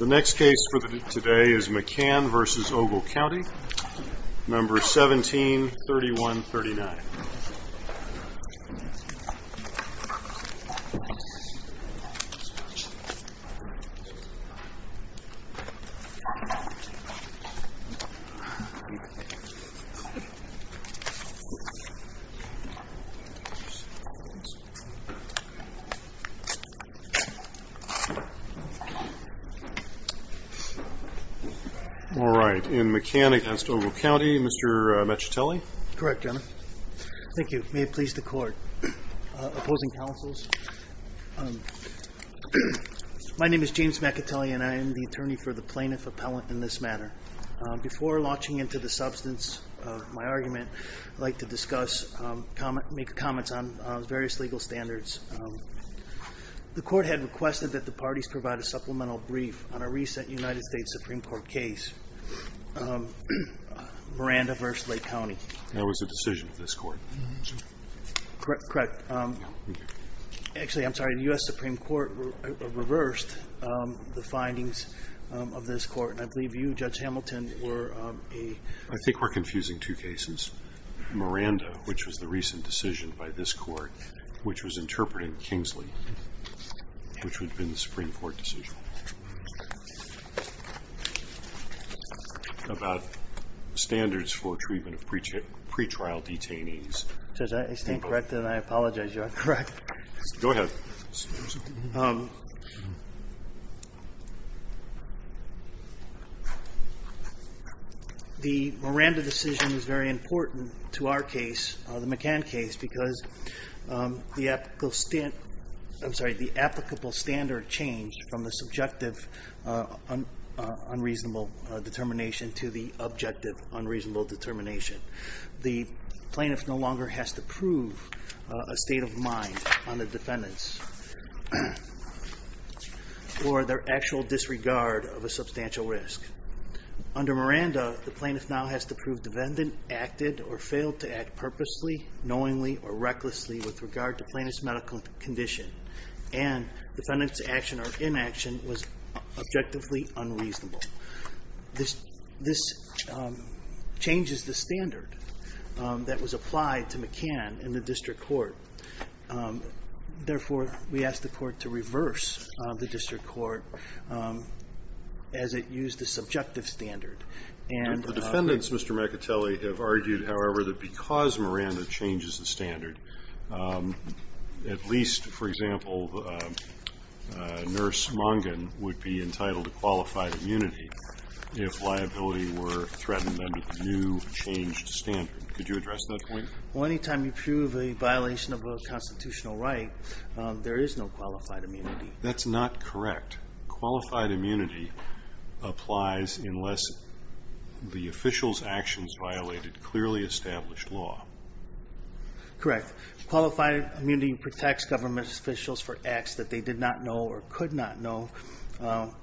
The next case for today is McCann v. Ogle County, No. 17-3139. All right, in McCann v. Ogle County, Mr. Maccatelli? Correct, your honor. Thank you. May it please the court. Opposing counsels? My name is James Maccatelli and I am the attorney for the plaintiff appellant in this matter. Before launching into the substance of my argument, I'd like to make comments on various legal standards. The court had requested that the parties provide a supplemental brief on a recent United States Supreme Court case, Miranda v. Lake County. That was the decision of this court. Correct. Actually, I'm sorry, the U.S. Supreme Court reversed the findings of this court. And I believe you, Judge Hamilton, were a... I think we're confusing two cases. Miranda, which was the recent decision by this court, which was interpreted in Kingsley, which would have been the Supreme Court decision about standards for treatment of pretrial detainees. Judge, I stand corrected and I apologize, you're incorrect. Go ahead. The Miranda decision is very important to our case, the McCann case, because the applicable standard changed from the subjective unreasonable determination to the objective unreasonable determination. The plaintiff no longer has to prove a state of mind on the defendants for their actual disregard of a substantial risk. Under Miranda, the plaintiff now has to prove defendant acted or failed to act purposely, knowingly, or recklessly with regard to plaintiff's medical condition. And defendant's action or inaction was objectively unreasonable. This changes the standard that was applied to McCann in the district court. Therefore, we ask the court to reverse the district court as it used the subjective standard. The defendants, Mr. McAtelly, have argued, however, that because Miranda changes the standard, at least, for example, Nurse Mongan would be entitled to qualified immunity if liability were threatened under the new changed standard. Could you address that point? Well, anytime you prove a violation of a constitutional right, there is no qualified immunity. That's not correct. Qualified immunity applies unless the official's actions violated clearly established law. Correct. Qualified immunity protects government officials for acts that they did not know or could not know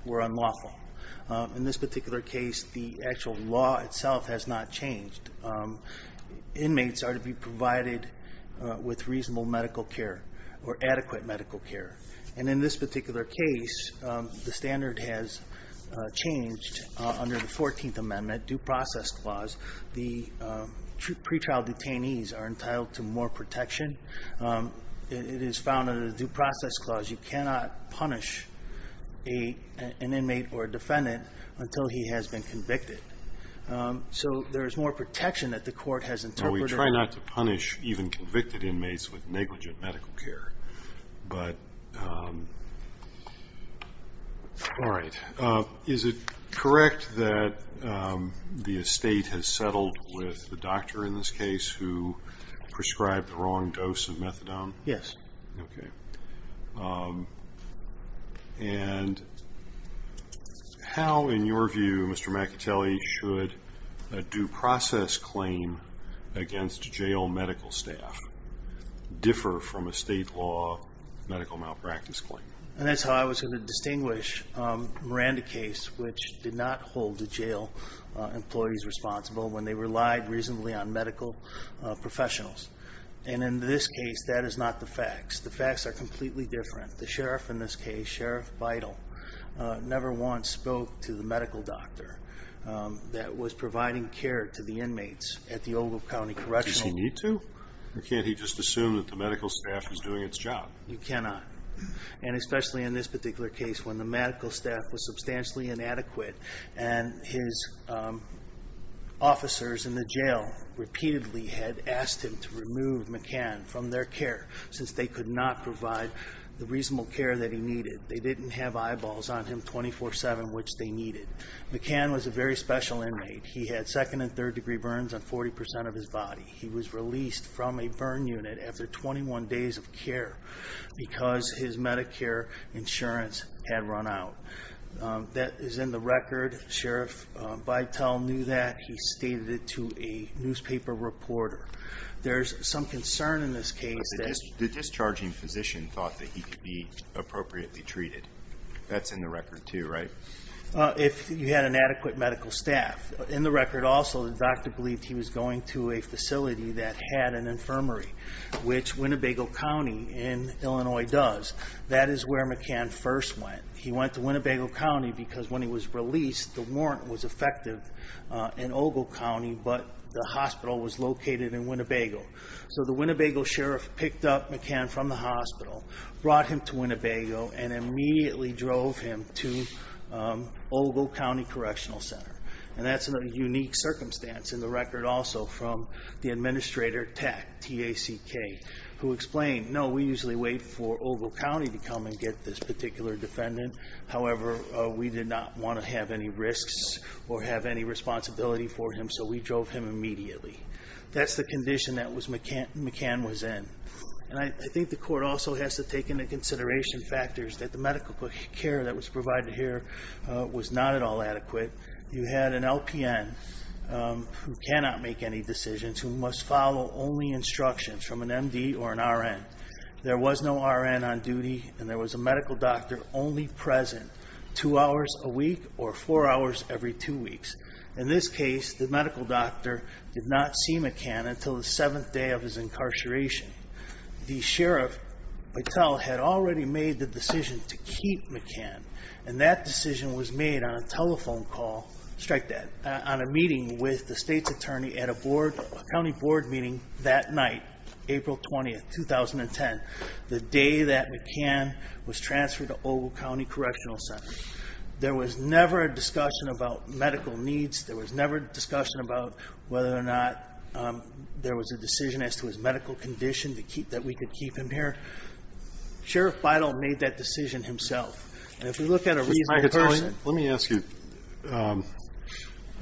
were unlawful. In this particular case, the actual law itself has not changed. Inmates are to be provided with reasonable medical care or adequate medical care. And in this particular case, the standard has changed. Under the 14th Amendment due process clause, the pretrial detainees are entitled to more protection. It is found under the due process clause you cannot punish an inmate or a defendant until he has been convicted. So there is more protection that the court has interpreted. We try not to punish even convicted inmates with negligent medical care. All right. Is it correct that the estate has settled with the doctor in this case who prescribed the wrong dose of methadone? Yes. Okay. And how, in your view, should a due process claim against jail medical staff differ from a state law medical malpractice claim? And that's how I was going to distinguish Miranda case, which did not hold the jail employees responsible, when they relied reasonably on medical professionals. And in this case, that is not the facts. The facts are completely different. The sheriff in this case, Sheriff Vidal, never once spoke to the medical doctor that was providing care to the inmates at the Ogilvie County Correctional. Does he need to? Or can't he just assume that the medical staff is doing its job? You cannot. And especially in this particular case, when the medical staff was substantially inadequate and his officers in the jail repeatedly had asked him to remove McCann from their care, since they could not provide the reasonable care that he needed. They didn't have eyeballs on him 24-7, which they needed. McCann was a very special inmate. He had second and third degree burns on 40% of his body. He was released from a burn unit after 21 days of care because his Medicare insurance had run out. That is in the record. Sheriff Vidal knew that. He stated it to a newspaper reporter. There's some concern in this case that... The discharging physician thought that he could be appropriately treated. That's in the record too, right? If you had an adequate medical staff. In the record also, the doctor believed he was going to a facility that had an infirmary, which Winnebago County in Illinois does. That is where McCann first went. He went to Winnebago County because when he was released, the warrant was effective in Ogilvie County, but the hospital was located in Winnebago. The Winnebago Sheriff picked up McCann from the hospital, brought him to Winnebago, and immediately drove him to Ogilvie County Correctional Center. That's in a unique circumstance in the record also from the administrator, TACK, T-A-C-K, who explained, no, we usually wait for Ogilvie County to come and get this particular defendant. However, we did not want to have any risks or have any responsibility for him, so we drove him immediately. That's the condition that McCann was in. I think the court also has to take into consideration factors that the medical care that was provided here was not at all adequate. You had an LPN who cannot make any decisions, who must follow only instructions from an MD or an RN. There was no RN on duty, and there was a medical doctor only present two hours a week or four hours every two weeks. In this case, the medical doctor did not see McCann until the seventh day of his incarceration. The sheriff, Patel, had already made the decision to keep McCann, and that decision was made on a telephone call, strike that, on a meeting with the state's attorney at a county board meeting that night, April 20, 2010, the day that McCann was transferred to Ogilvie County Correctional Center. There was never a discussion about medical needs. There was never a discussion about whether or not there was a decision as to his medical condition that we could keep him here. Sheriff Patel made that decision himself. If we look at a reasonable person. Let me ask you.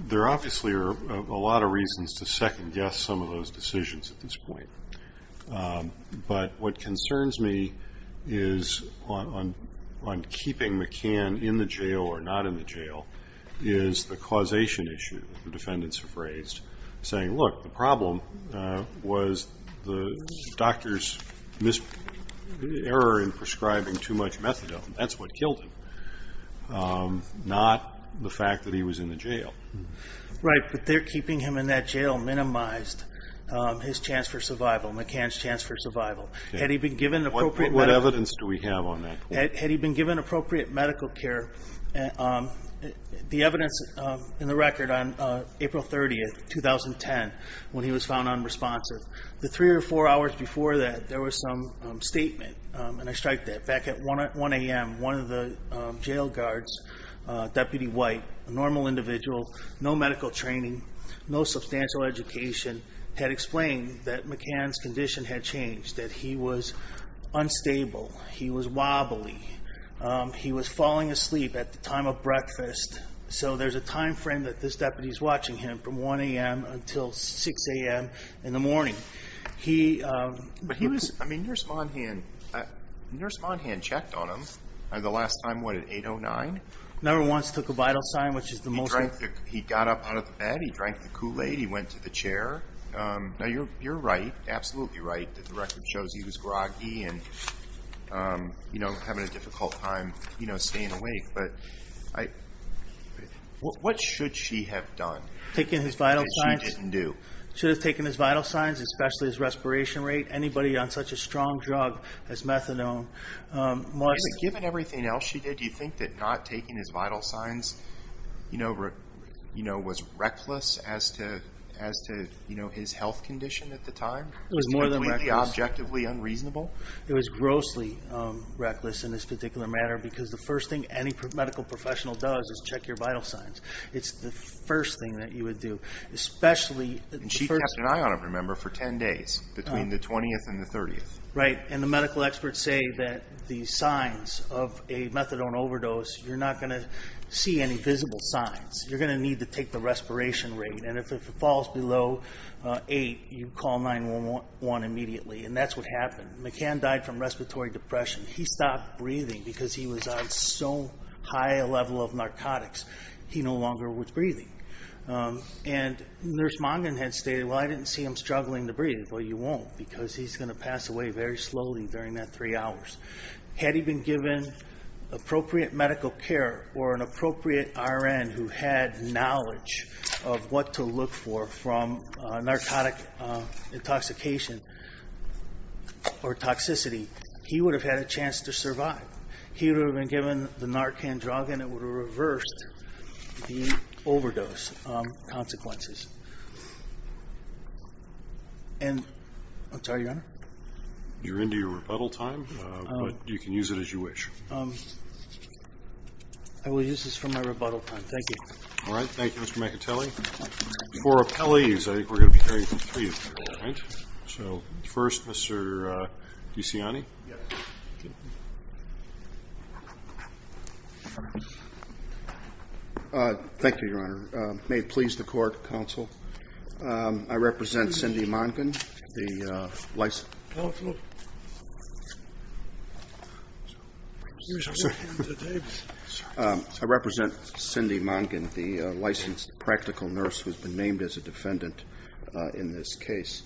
There obviously are a lot of reasons to second-guess some of those decisions at this point, but what concerns me is on keeping McCann in the jail or not in the jail is the causation issue the defendants have raised, saying, look, the problem was the doctor's error in prescribing too much methadone. That's what killed him, not the fact that he was in the jail. Right, but keeping him in that jail minimized his chance for survival, McCann's chance for survival. What evidence do we have on that? Had he been given appropriate medical care, the evidence in the record on April 30, 2010, when he was found unresponsive, the three or four hours before that there was some statement, and I strike that, back at 1 a.m., one of the jail guards, Deputy White, a normal individual, no medical training, no substantial education had explained that McCann's condition had changed, that he was unstable. He was wobbly. He was falling asleep at the time of breakfast. So there's a time frame that this deputy is watching him from 1 a.m. until 6 a.m. in the morning. But he was, I mean, Nurse Monahan checked on him the last time, what, at 8.09? Never once took a vital sign, which is the most. He got up out of bed, he drank the Kool-Aid, he went to the chair. Now, you're right, absolutely right, that the record shows he was groggy and having a difficult time staying awake. But what should she have done? Taken his vital signs? That she didn't do. She should have taken his vital signs, especially his respiration rate. Anybody on such a strong drug as methadone must. Given everything else she did, do you think that not taking his vital signs, you know, was reckless as to his health condition at the time? It was more than reckless. Was it completely objectively unreasonable? It was grossly reckless in this particular matter, because the first thing any medical professional does is check your vital signs. It's the first thing that you would do. And she kept an eye on him, remember, for 10 days, between the 20th and the 30th. Right, and the medical experts say that the signs of a methadone overdose, you're not going to see any visible signs. You're going to need to take the respiration rate. And if it falls below 8, you call 911 immediately, and that's what happened. McCann died from respiratory depression. He stopped breathing because he was on so high a level of narcotics. He no longer was breathing. And Nurse Mongan had stated, well, I didn't see him struggling to breathe. Well, you won't, because he's going to pass away very slowly during that three hours. Had he been given appropriate medical care or an appropriate RN who had knowledge of what to look for from narcotic intoxication or toxicity, he would have had a chance to survive. He would have been given the narcan drug, and it would have reversed the overdose consequences. And I'm sorry, Your Honor? You're into your rebuttal time, but you can use it as you wish. I will use this for my rebuttal time. Thank you. All right, thank you, Mr. McIntellie. Before appellees, I think we're going to be hearing from three of you, all right? So first, Mr. DeCiani. Thank you, Your Honor. May it please the court, counsel. I represent Cindy Mongan, the licensed practical nurse who has been named as a defendant in this case.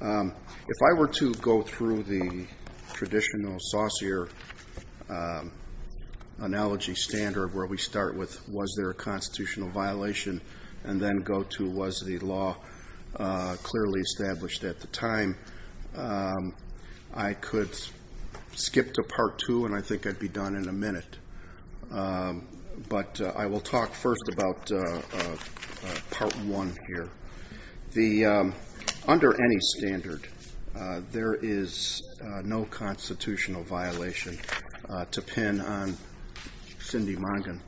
If I were to go through the traditional saucier analogy standard, where we start with was there a constitutional violation and then go to was the law clearly established at the time, I could skip to Part 2, and I think I'd be done in a minute. But I will talk first about Part 1 here. Under any standard, there is no constitutional violation, to pin on Cindy Mongan,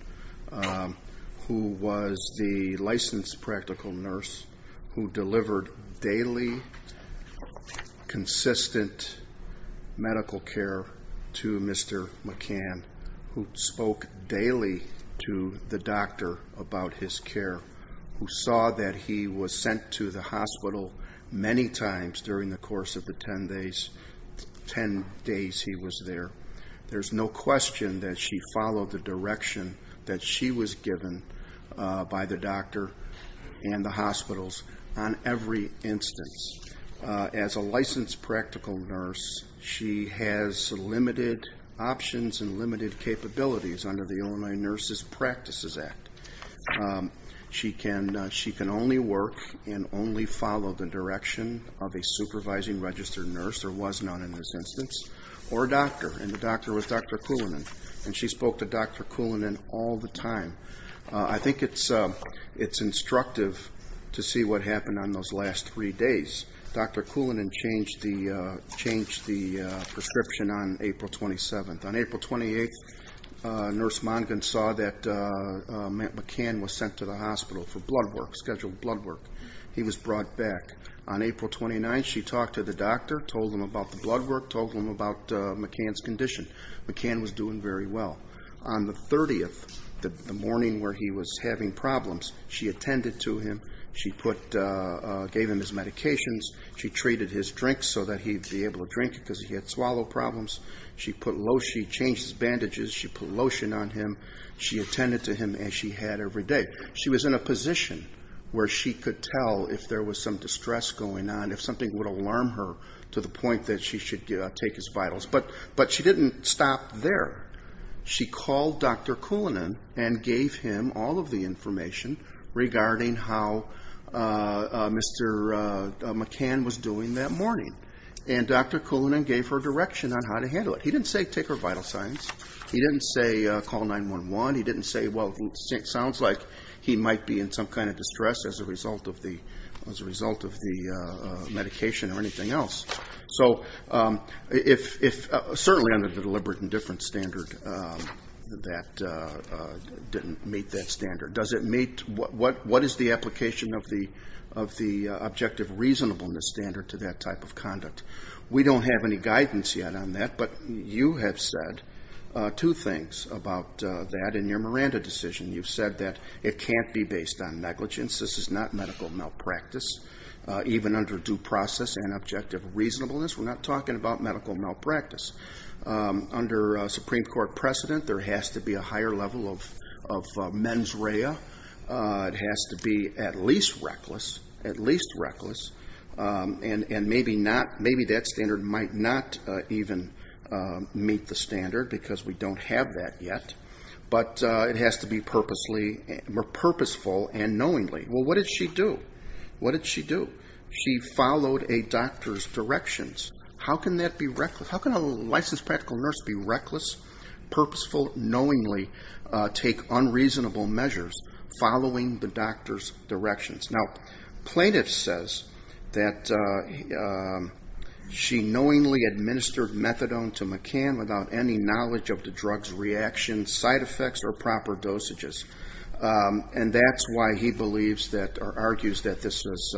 who was the licensed practical nurse who delivered daily consistent medical care to Mr. McCann, who spoke daily to the doctor about his care, who saw that he was sent to the hospital many times during the course of the 10 days he was there. There's no question that she followed the direction that she was given by the doctor and the hospitals on every instance. As a licensed practical nurse, she has limited options and limited capabilities under the Illinois Nurses Practices Act. She can only work and only follow the direction of a supervising registered nurse, or was not in this instance, or a doctor, and the doctor was Dr. Coulinan, and she spoke to Dr. Coulinan all the time. I think it's instructive to see what happened on those last three days. Dr. Coulinan changed the prescription on April 27th. On April 28th, Nurse Mongan saw that McCann was sent to the hospital for blood work, scheduled blood work. He was brought back. On April 29th, she talked to the doctor, told him about the blood work, told him about McCann's condition. McCann was doing very well. On the 30th, the morning where he was having problems, she attended to him. She gave him his medications. She treated his drinks so that he'd be able to drink because he had swallow problems. She changed his bandages. She put lotion on him. She attended to him as she had every day. She was in a position where she could tell if there was some distress going on, if something would alarm her to the point that she should take his vitals. But she didn't stop there. She called Dr. Coulinan and gave him all of the information regarding how Mr. McCann was doing that morning. And Dr. Coulinan gave her direction on how to handle it. He didn't say take her vital signs. He didn't say call 911. He didn't say, well, it sounds like he might be in some kind of distress as a result of the medication or anything else. So certainly under the deliberate indifference standard, that didn't meet that standard. Does it meet? What is the application of the objective reasonableness standard to that type of conduct? We don't have any guidance yet on that, but you have said two things about that in your Miranda decision. You've said that it can't be based on negligence. This is not medical malpractice. Even under due process and objective reasonableness, we're not talking about medical malpractice. Under Supreme Court precedent, there has to be a higher level of mens rea. It has to be at least reckless, and maybe that standard might not even meet the standard because we don't have that yet. But it has to be purposeful and knowingly. Well, what did she do? What did she do? She followed a doctor's directions. How can a licensed practical nurse be reckless, purposeful, knowingly take unreasonable measures following the doctor's directions? Now, plaintiff says that she knowingly administered methadone to McCann without any knowledge of the drug's reaction, side effects, or proper dosages. And that's why he believes that or argues that this is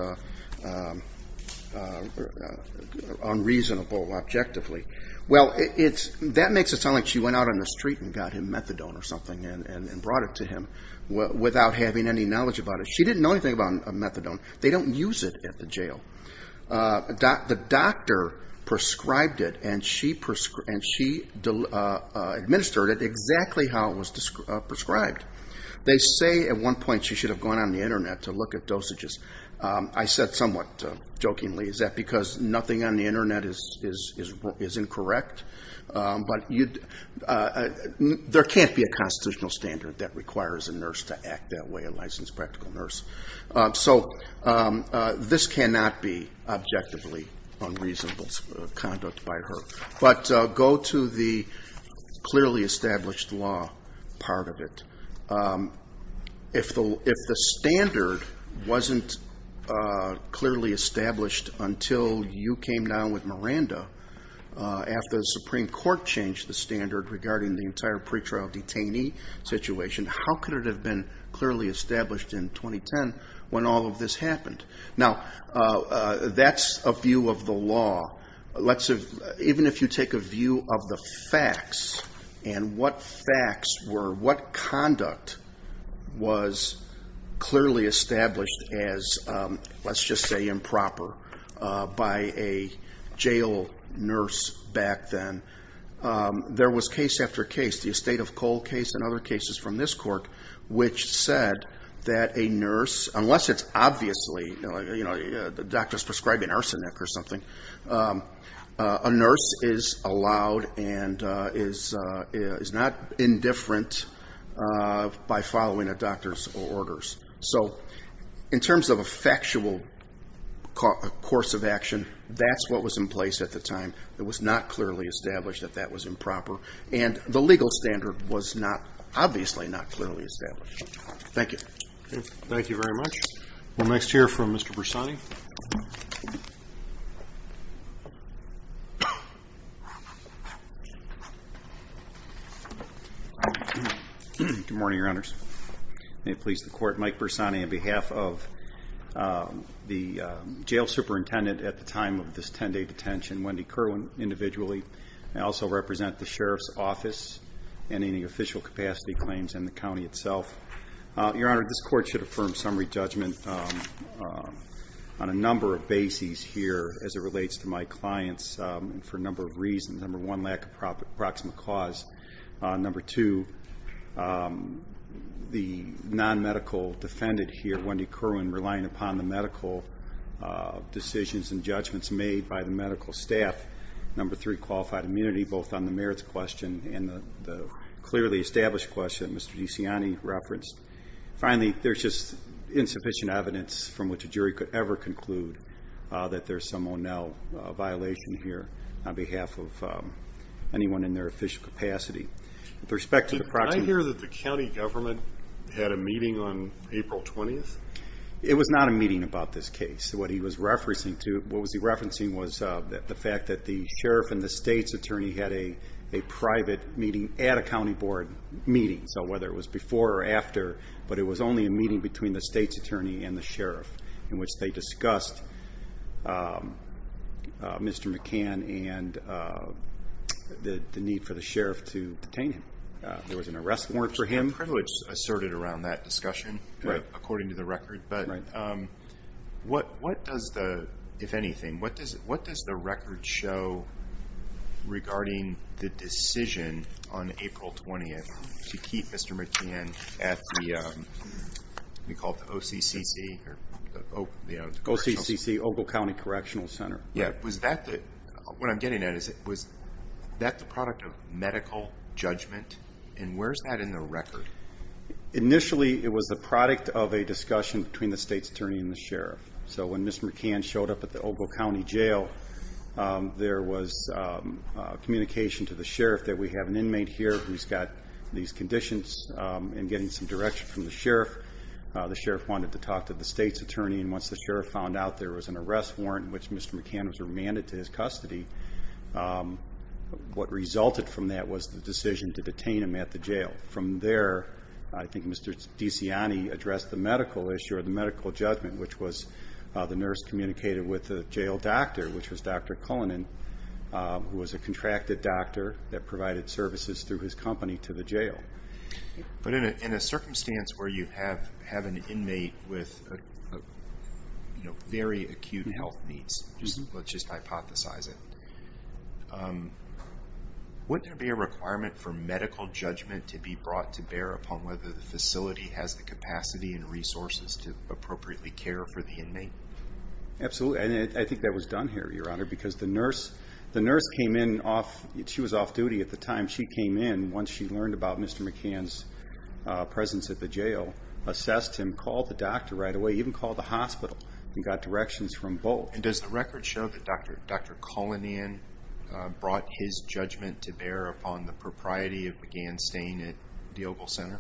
unreasonable objectively. Well, that makes it sound like she went out on the street and got him methadone or something and brought it to him without having any knowledge about it. She didn't know anything about methadone. They don't use it at the jail. The doctor prescribed it and she administered it exactly how it was prescribed. They say at one point she should have gone on the Internet to look at dosages. I said somewhat jokingly, is that because nothing on the Internet is incorrect? But there can't be a constitutional standard that requires a nurse to act that way, a licensed practical nurse. So this cannot be objectively unreasonable conduct by her. But go to the clearly established law part of it. If the standard wasn't clearly established until you came down with Miranda, after the Supreme Court changed the standard regarding the entire pretrial detainee situation, how could it have been clearly established in 2010 when all of this happened? Now, that's a view of the law. Even if you take a view of the facts and what facts were, what conduct was clearly established as, let's just say, improper by a jail nurse back then, there was case after case. The estate of coal case and other cases from this court which said that a nurse, unless it's obviously the doctor's prescribing arsenic or something, a nurse is allowed and is not indifferent by following a doctor's orders. So in terms of a factual course of action, that's what was in place at the time. It was not clearly established that that was improper. And the legal standard was obviously not clearly established. Thank you. Thank you very much. We'll next hear from Mr. Bersani. Good morning, Your Honors. May it please the Court, Mike Bersani on behalf of the jail superintendent at the time of this 10-day detention, Wendy Kerwin, individually. I also represent the Sheriff's Office and any official capacity claims in the county itself. Your Honor, this Court should affirm summary judgment on a number of bases here as it relates to my clients for a number of reasons. Number one, lack of proximate cause. Number two, the non-medical defendant here, Wendy Kerwin, relying upon the medical decisions and judgments made by the medical staff. Number three, qualified immunity, both on the merits question and the clearly established question Mr. DeCiani referenced. Finally, there's just insufficient evidence from which a jury could ever conclude that there's some O'Neill violation here on behalf of anyone in their official capacity. With respect to the proximate cause. Did I hear that the county government had a meeting on April 20th? It was not a meeting about this case. What he was referencing was the fact that the sheriff and the state's attorney had a private meeting at a county board meeting, so whether it was before or after, but it was only a meeting between the state's attorney and the sheriff in which they discussed Mr. McCann and the need for the sheriff to detain him. There was an arrest warrant for him. There was some privilege asserted around that discussion, according to the record, but what does the record show regarding the decision on April 20th to keep Mr. McCann at the OCCC, the Ogle County Correctional Center? What I'm getting at is, was that the product of medical judgment? And where's that in the record? Initially, it was the product of a discussion between the state's attorney and the sheriff. So when Mr. McCann showed up at the Ogle County Jail, there was communication to the sheriff that we have an inmate here who's got these conditions and getting some direction from the sheriff. The sheriff wanted to talk to the state's attorney, and once the sheriff found out there was an arrest warrant in which Mr. McCann was remanded to his custody, what resulted from that was the decision to detain him at the jail. From there, I think Mr. DeCiani addressed the medical issue or the medical judgment, which was the nurse communicated with the jail doctor, which was Dr. Cullinan, who was a contracted doctor that provided services through his company to the jail. But in a circumstance where you have an inmate with very acute health needs, let's just hypothesize it, wouldn't there be a requirement for medical judgment to be brought to bear upon whether the facility has the capacity and resources to appropriately care for the inmate? Absolutely, and I think that was done here, Your Honor, because the nurse came in off—she was off duty at the time. She came in once she learned about Mr. McCann's presence at the jail, assessed him, called the doctor right away, even called the hospital and got directions from both. And does the record show that Dr. Cullinan brought his judgment to bear upon the propriety of McCann staying at Diobel Center?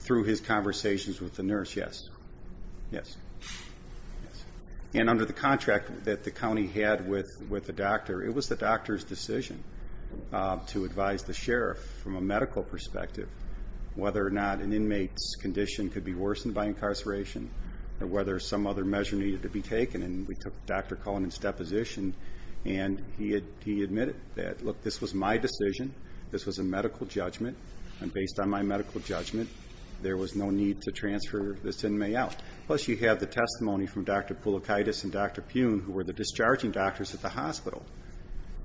Through his conversations with the nurse, yes. And under the contract that the county had with the doctor, it was the doctor's decision to advise the sheriff from a medical perspective whether or not an inmate's condition could be worsened by incarceration or whether some other measure needed to be taken. And we took Dr. Cullinan's deposition, and he admitted that, look, this was my decision, this was a medical judgment, and based on my medical judgment, there was no need to transfer this inmate out. Plus you have the testimony from Dr. Poulokitis and Dr. Puhn, who were the discharging doctors at the hospital,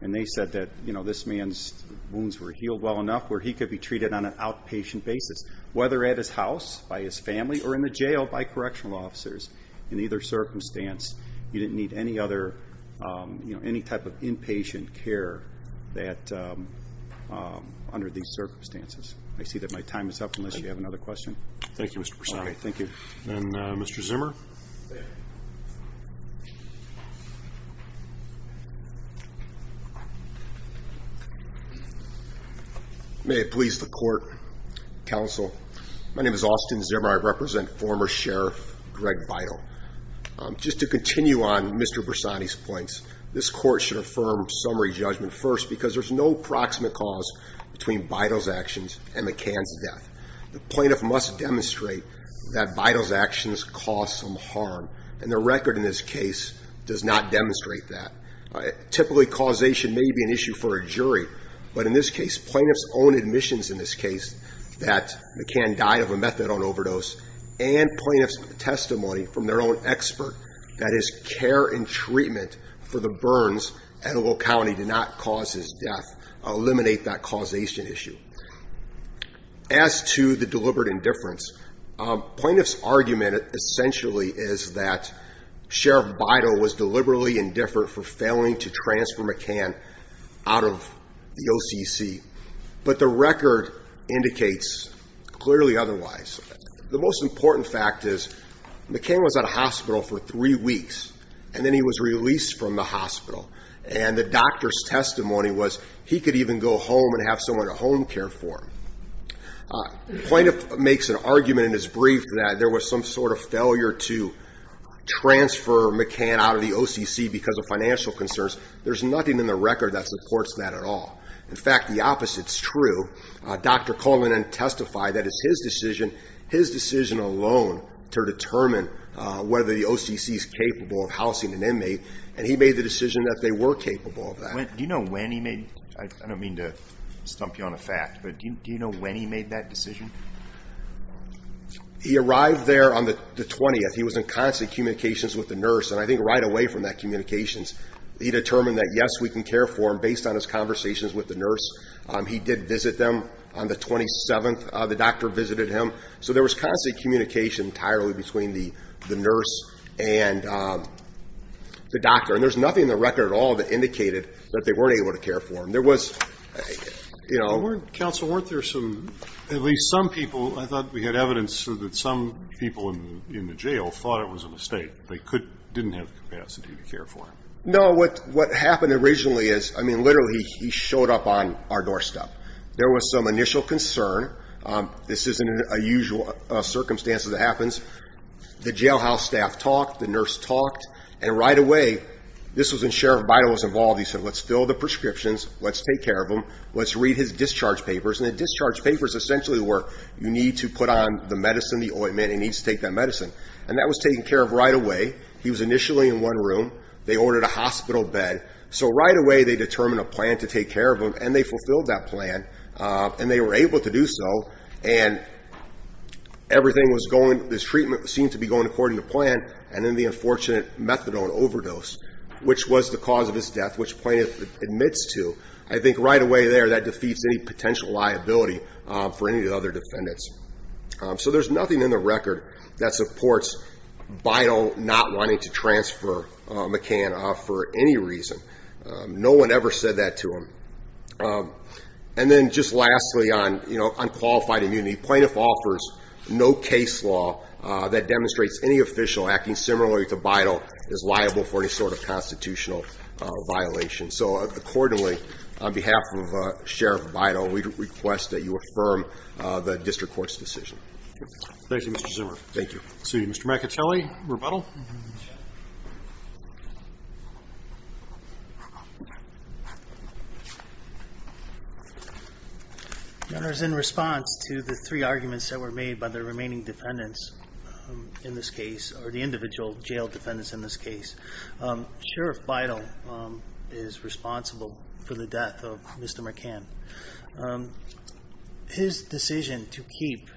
and they said that this man's wounds were healed well enough where he could be treated on an outpatient basis, whether at his house, by his family, or in the jail by correctional officers. In either circumstance, you didn't need any type of inpatient care under these circumstances. I see that my time is up unless you have another question. Thank you, Mr. Persaud. Thank you. And Mr. Zimmer? May it please the Court, Counsel. My name is Austin Zimmer. I represent former Sheriff Greg Bidle. Just to continue on Mr. Persaud's points, this Court should affirm summary judgment first because there's no proximate cause between Bidle's actions and McCann's death. And the record in this case does not demonstrate that. Typically, causation may be an issue for a jury. But in this case, plaintiff's own admissions in this case, that McCann died of a methadone overdose, and plaintiff's testimony from their own expert, that is care and treatment for the burns at Ogle County did not cause his death, eliminate that causation issue. As to the deliberate indifference, plaintiff's argument essentially is that Sheriff Bidle was deliberately indifferent for failing to transfer McCann out of the OCC. But the record indicates clearly otherwise. The most important fact is McCann was at a hospital for three weeks, and then he was released from the hospital. And the doctor's testimony was he could even go home and have someone at home care for him. Plaintiff makes an argument in his brief that there was some sort of failure to transfer McCann out of the OCC because of financial concerns. There's nothing in the record that supports that at all. In fact, the opposite's true. Dr. Cullinan testified that it's his decision, his decision alone, to determine whether the OCC is capable of housing an inmate, and he made the decision that they were capable of that. Do you know when he made the decision? I don't mean to stump you on a fact, but do you know when he made that decision? He arrived there on the 20th. He was in constant communications with the nurse, and I think right away from that communications, he determined that, yes, we can care for him based on his conversations with the nurse. He did visit them on the 27th. The doctor visited him. So there was constant communication entirely between the nurse and the doctor, and there's nothing in the record at all that indicated that they weren't able to care for him. Counsel, weren't there some, at least some people, I thought we had evidence that some people in the jail thought it was a mistake. They didn't have the capacity to care for him. No, what happened originally is, I mean, literally, he showed up on our doorstep. There was some initial concern. This isn't a usual circumstance that happens. The jailhouse staff talked, the nurse talked, and right away, this was when Sheriff Bidel was involved. He said, let's fill the prescriptions, let's take care of him, let's read his discharge papers, and the discharge papers essentially were, you need to put on the medicine, the ointment, he needs to take that medicine. And that was taken care of right away. He was initially in one room. They ordered a hospital bed. So right away, they determined a plan to take care of him, and they fulfilled that plan, and they were able to do so, and everything was going, his treatment seemed to be going according to plan, and then the unfortunate methadone overdose, which was the cause of his death, which the plaintiff admits to, I think right away there, that defeats any potential liability for any of the other defendants. So there's nothing in the record that supports Bidel not wanting to transfer McCann off for any reason. No one ever said that to him. And then just lastly, on qualified immunity, plaintiff offers no case law that demonstrates any official acting similarly to Bidel is liable for any sort of constitutional violation. So accordingly, on behalf of Sheriff Bidel, we request that you affirm the district court's decision. Thank you, Mr. Zimmer. Thank you. Seeing Mr. McAtelly, rebuttal. Your Honor, in response to the three arguments that were made by the remaining defendants in this case, or the individual jail defendants in this case, Sheriff Bidel is responsible for the death of Mr. McCann. His decision to keep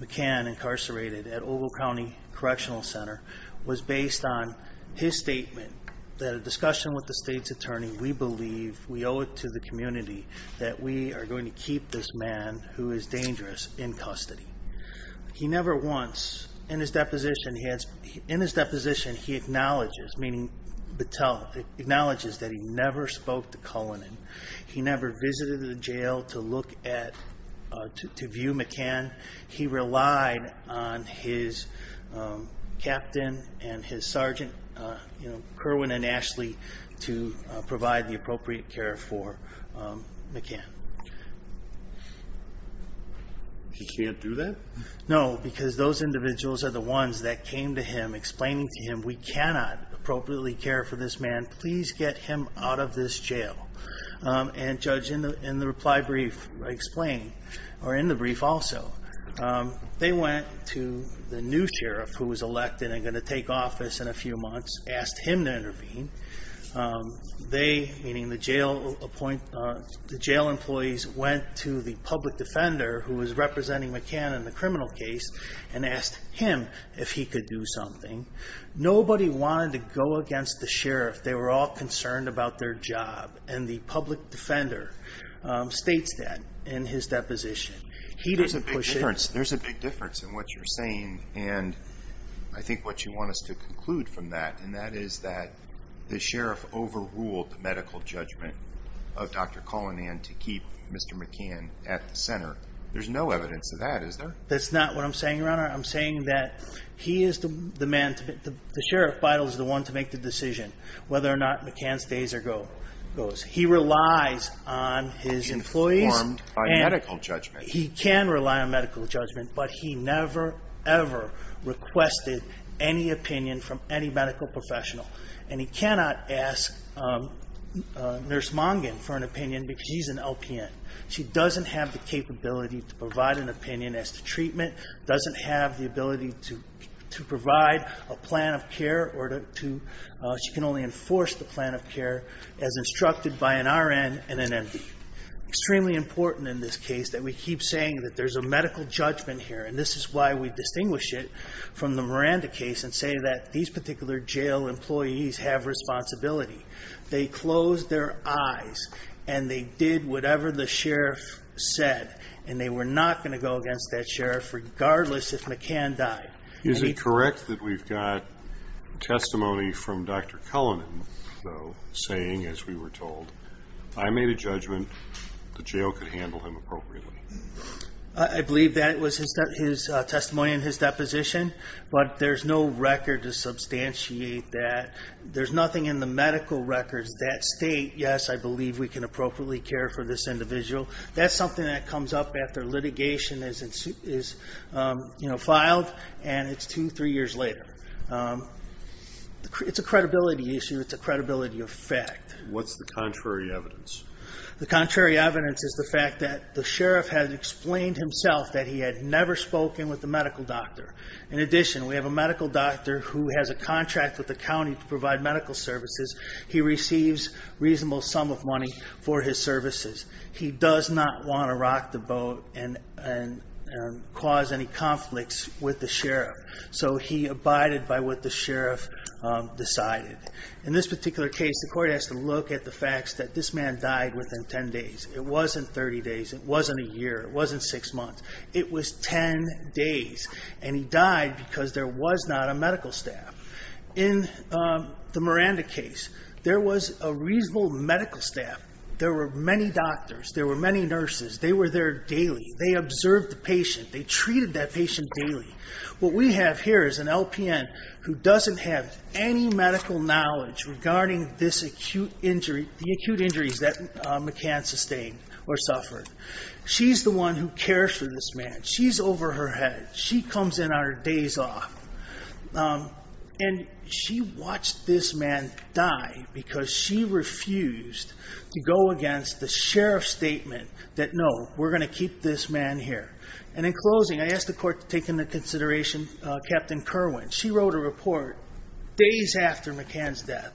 McCann incarcerated at Ogle County Correctional Center was based on his statement that a discussion with the state's attorney, we believe, we owe it to the community, that we are going to keep this man who is dangerous in custody. He never once, in his deposition, he acknowledges, meaning Bidel, acknowledges that he never spoke to Cullinan. He never visited the jail to look at, to view McCann. He relied on his captain and his sergeant, Kerwin and Ashley, to provide the appropriate care for McCann. He can't do that? No, because those individuals are the ones that came to him explaining to him, we cannot appropriately care for this man, please get him out of this jail. And, Judge, in the reply brief I explained, or in the brief also, they went to the new sheriff who was elected and going to take office in a few months, asked him to intervene. They, meaning the jail employees, went to the public defender who was representing McCann in the criminal case and asked him if he could do something. Nobody wanted to go against the sheriff. They were all concerned about their job. And the public defender states that in his deposition. He didn't push it. There's a big difference in what you're saying, and I think what you want us to conclude from that, and that is that the sheriff overruled the medical judgment of Dr. Cullinan to keep Mr. McCann at the center. There's no evidence of that, is there? That's not what I'm saying, Your Honor. I'm saying that he is the man, the sheriff, Bidel, is the one to make the decision whether or not McCann stays or goes. He relies on his employees. He's informed on medical judgment. He can rely on medical judgment, but he never, ever requested any opinion from any medical professional. And he cannot ask Nurse Mongan for an opinion because she's an LPN. She doesn't have the capability to provide an opinion as to treatment, doesn't have the ability to provide a plan of care, or she can only enforce the plan of care as instructed by an RN and an MD. It's extremely important in this case that we keep saying that there's a medical judgment here, and this is why we distinguish it from the Miranda case and say that these particular jail employees have responsibility. They closed their eyes and they did whatever the sheriff said, and they were not going to go against that sheriff regardless if McCann died. Is it correct that we've got testimony from Dr. Cullinan, though, saying, as we were told, I made a judgment the jail could handle him appropriately? I believe that was his testimony in his deposition, but there's no record to substantiate that. There's nothing in the medical records that state, yes, I believe we can appropriately care for this individual. That's something that comes up after litigation is filed, and it's two, three years later. It's a credibility issue. It's a credibility effect. What's the contrary evidence? The contrary evidence is the fact that the sheriff has explained himself that he had never spoken with the medical doctor. In addition, we have a medical doctor who has a contract with the county to provide medical services. He receives a reasonable sum of money for his services. He does not want to rock the boat and cause any conflicts with the sheriff, so he abided by what the sheriff decided. In this particular case, the court has to look at the facts that this man died within 10 days. It wasn't 30 days. It wasn't a year. It wasn't six months. It was 10 days, and he died because there was not a medical staff. In the Miranda case, there was a reasonable medical staff. There were many doctors. There were many nurses. They were there daily. They observed the patient. They treated that patient daily. What we have here is an LPN who doesn't have any medical knowledge regarding this acute injury, the acute injuries that McCann sustained or suffered. She's the one who cares for this man. She's over her head. She comes in on her days off, and she watched this man die because she refused to go against the sheriff's statement that, no, we're going to keep this man here. In closing, I ask the court to take into consideration Captain Kerwin. She wrote a report days after McCann's death.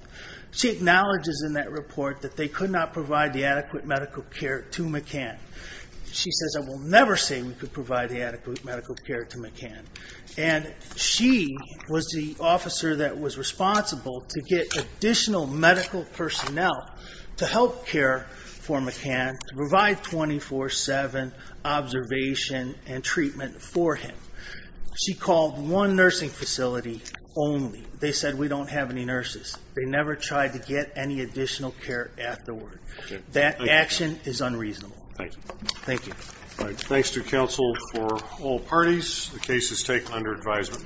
She acknowledges in that report that they could not provide the adequate medical care to McCann. She says, I will never say we could provide the adequate medical care to McCann. She was the officer that was responsible to get additional medical personnel to help care for McCann, to provide 24-7 observation and treatment for him. She called one nursing facility only. They said, we don't have any nurses. They never tried to get any additional care afterward. That action is unreasonable. Thank you. Thanks to counsel for all parties. The case is taken under advisement.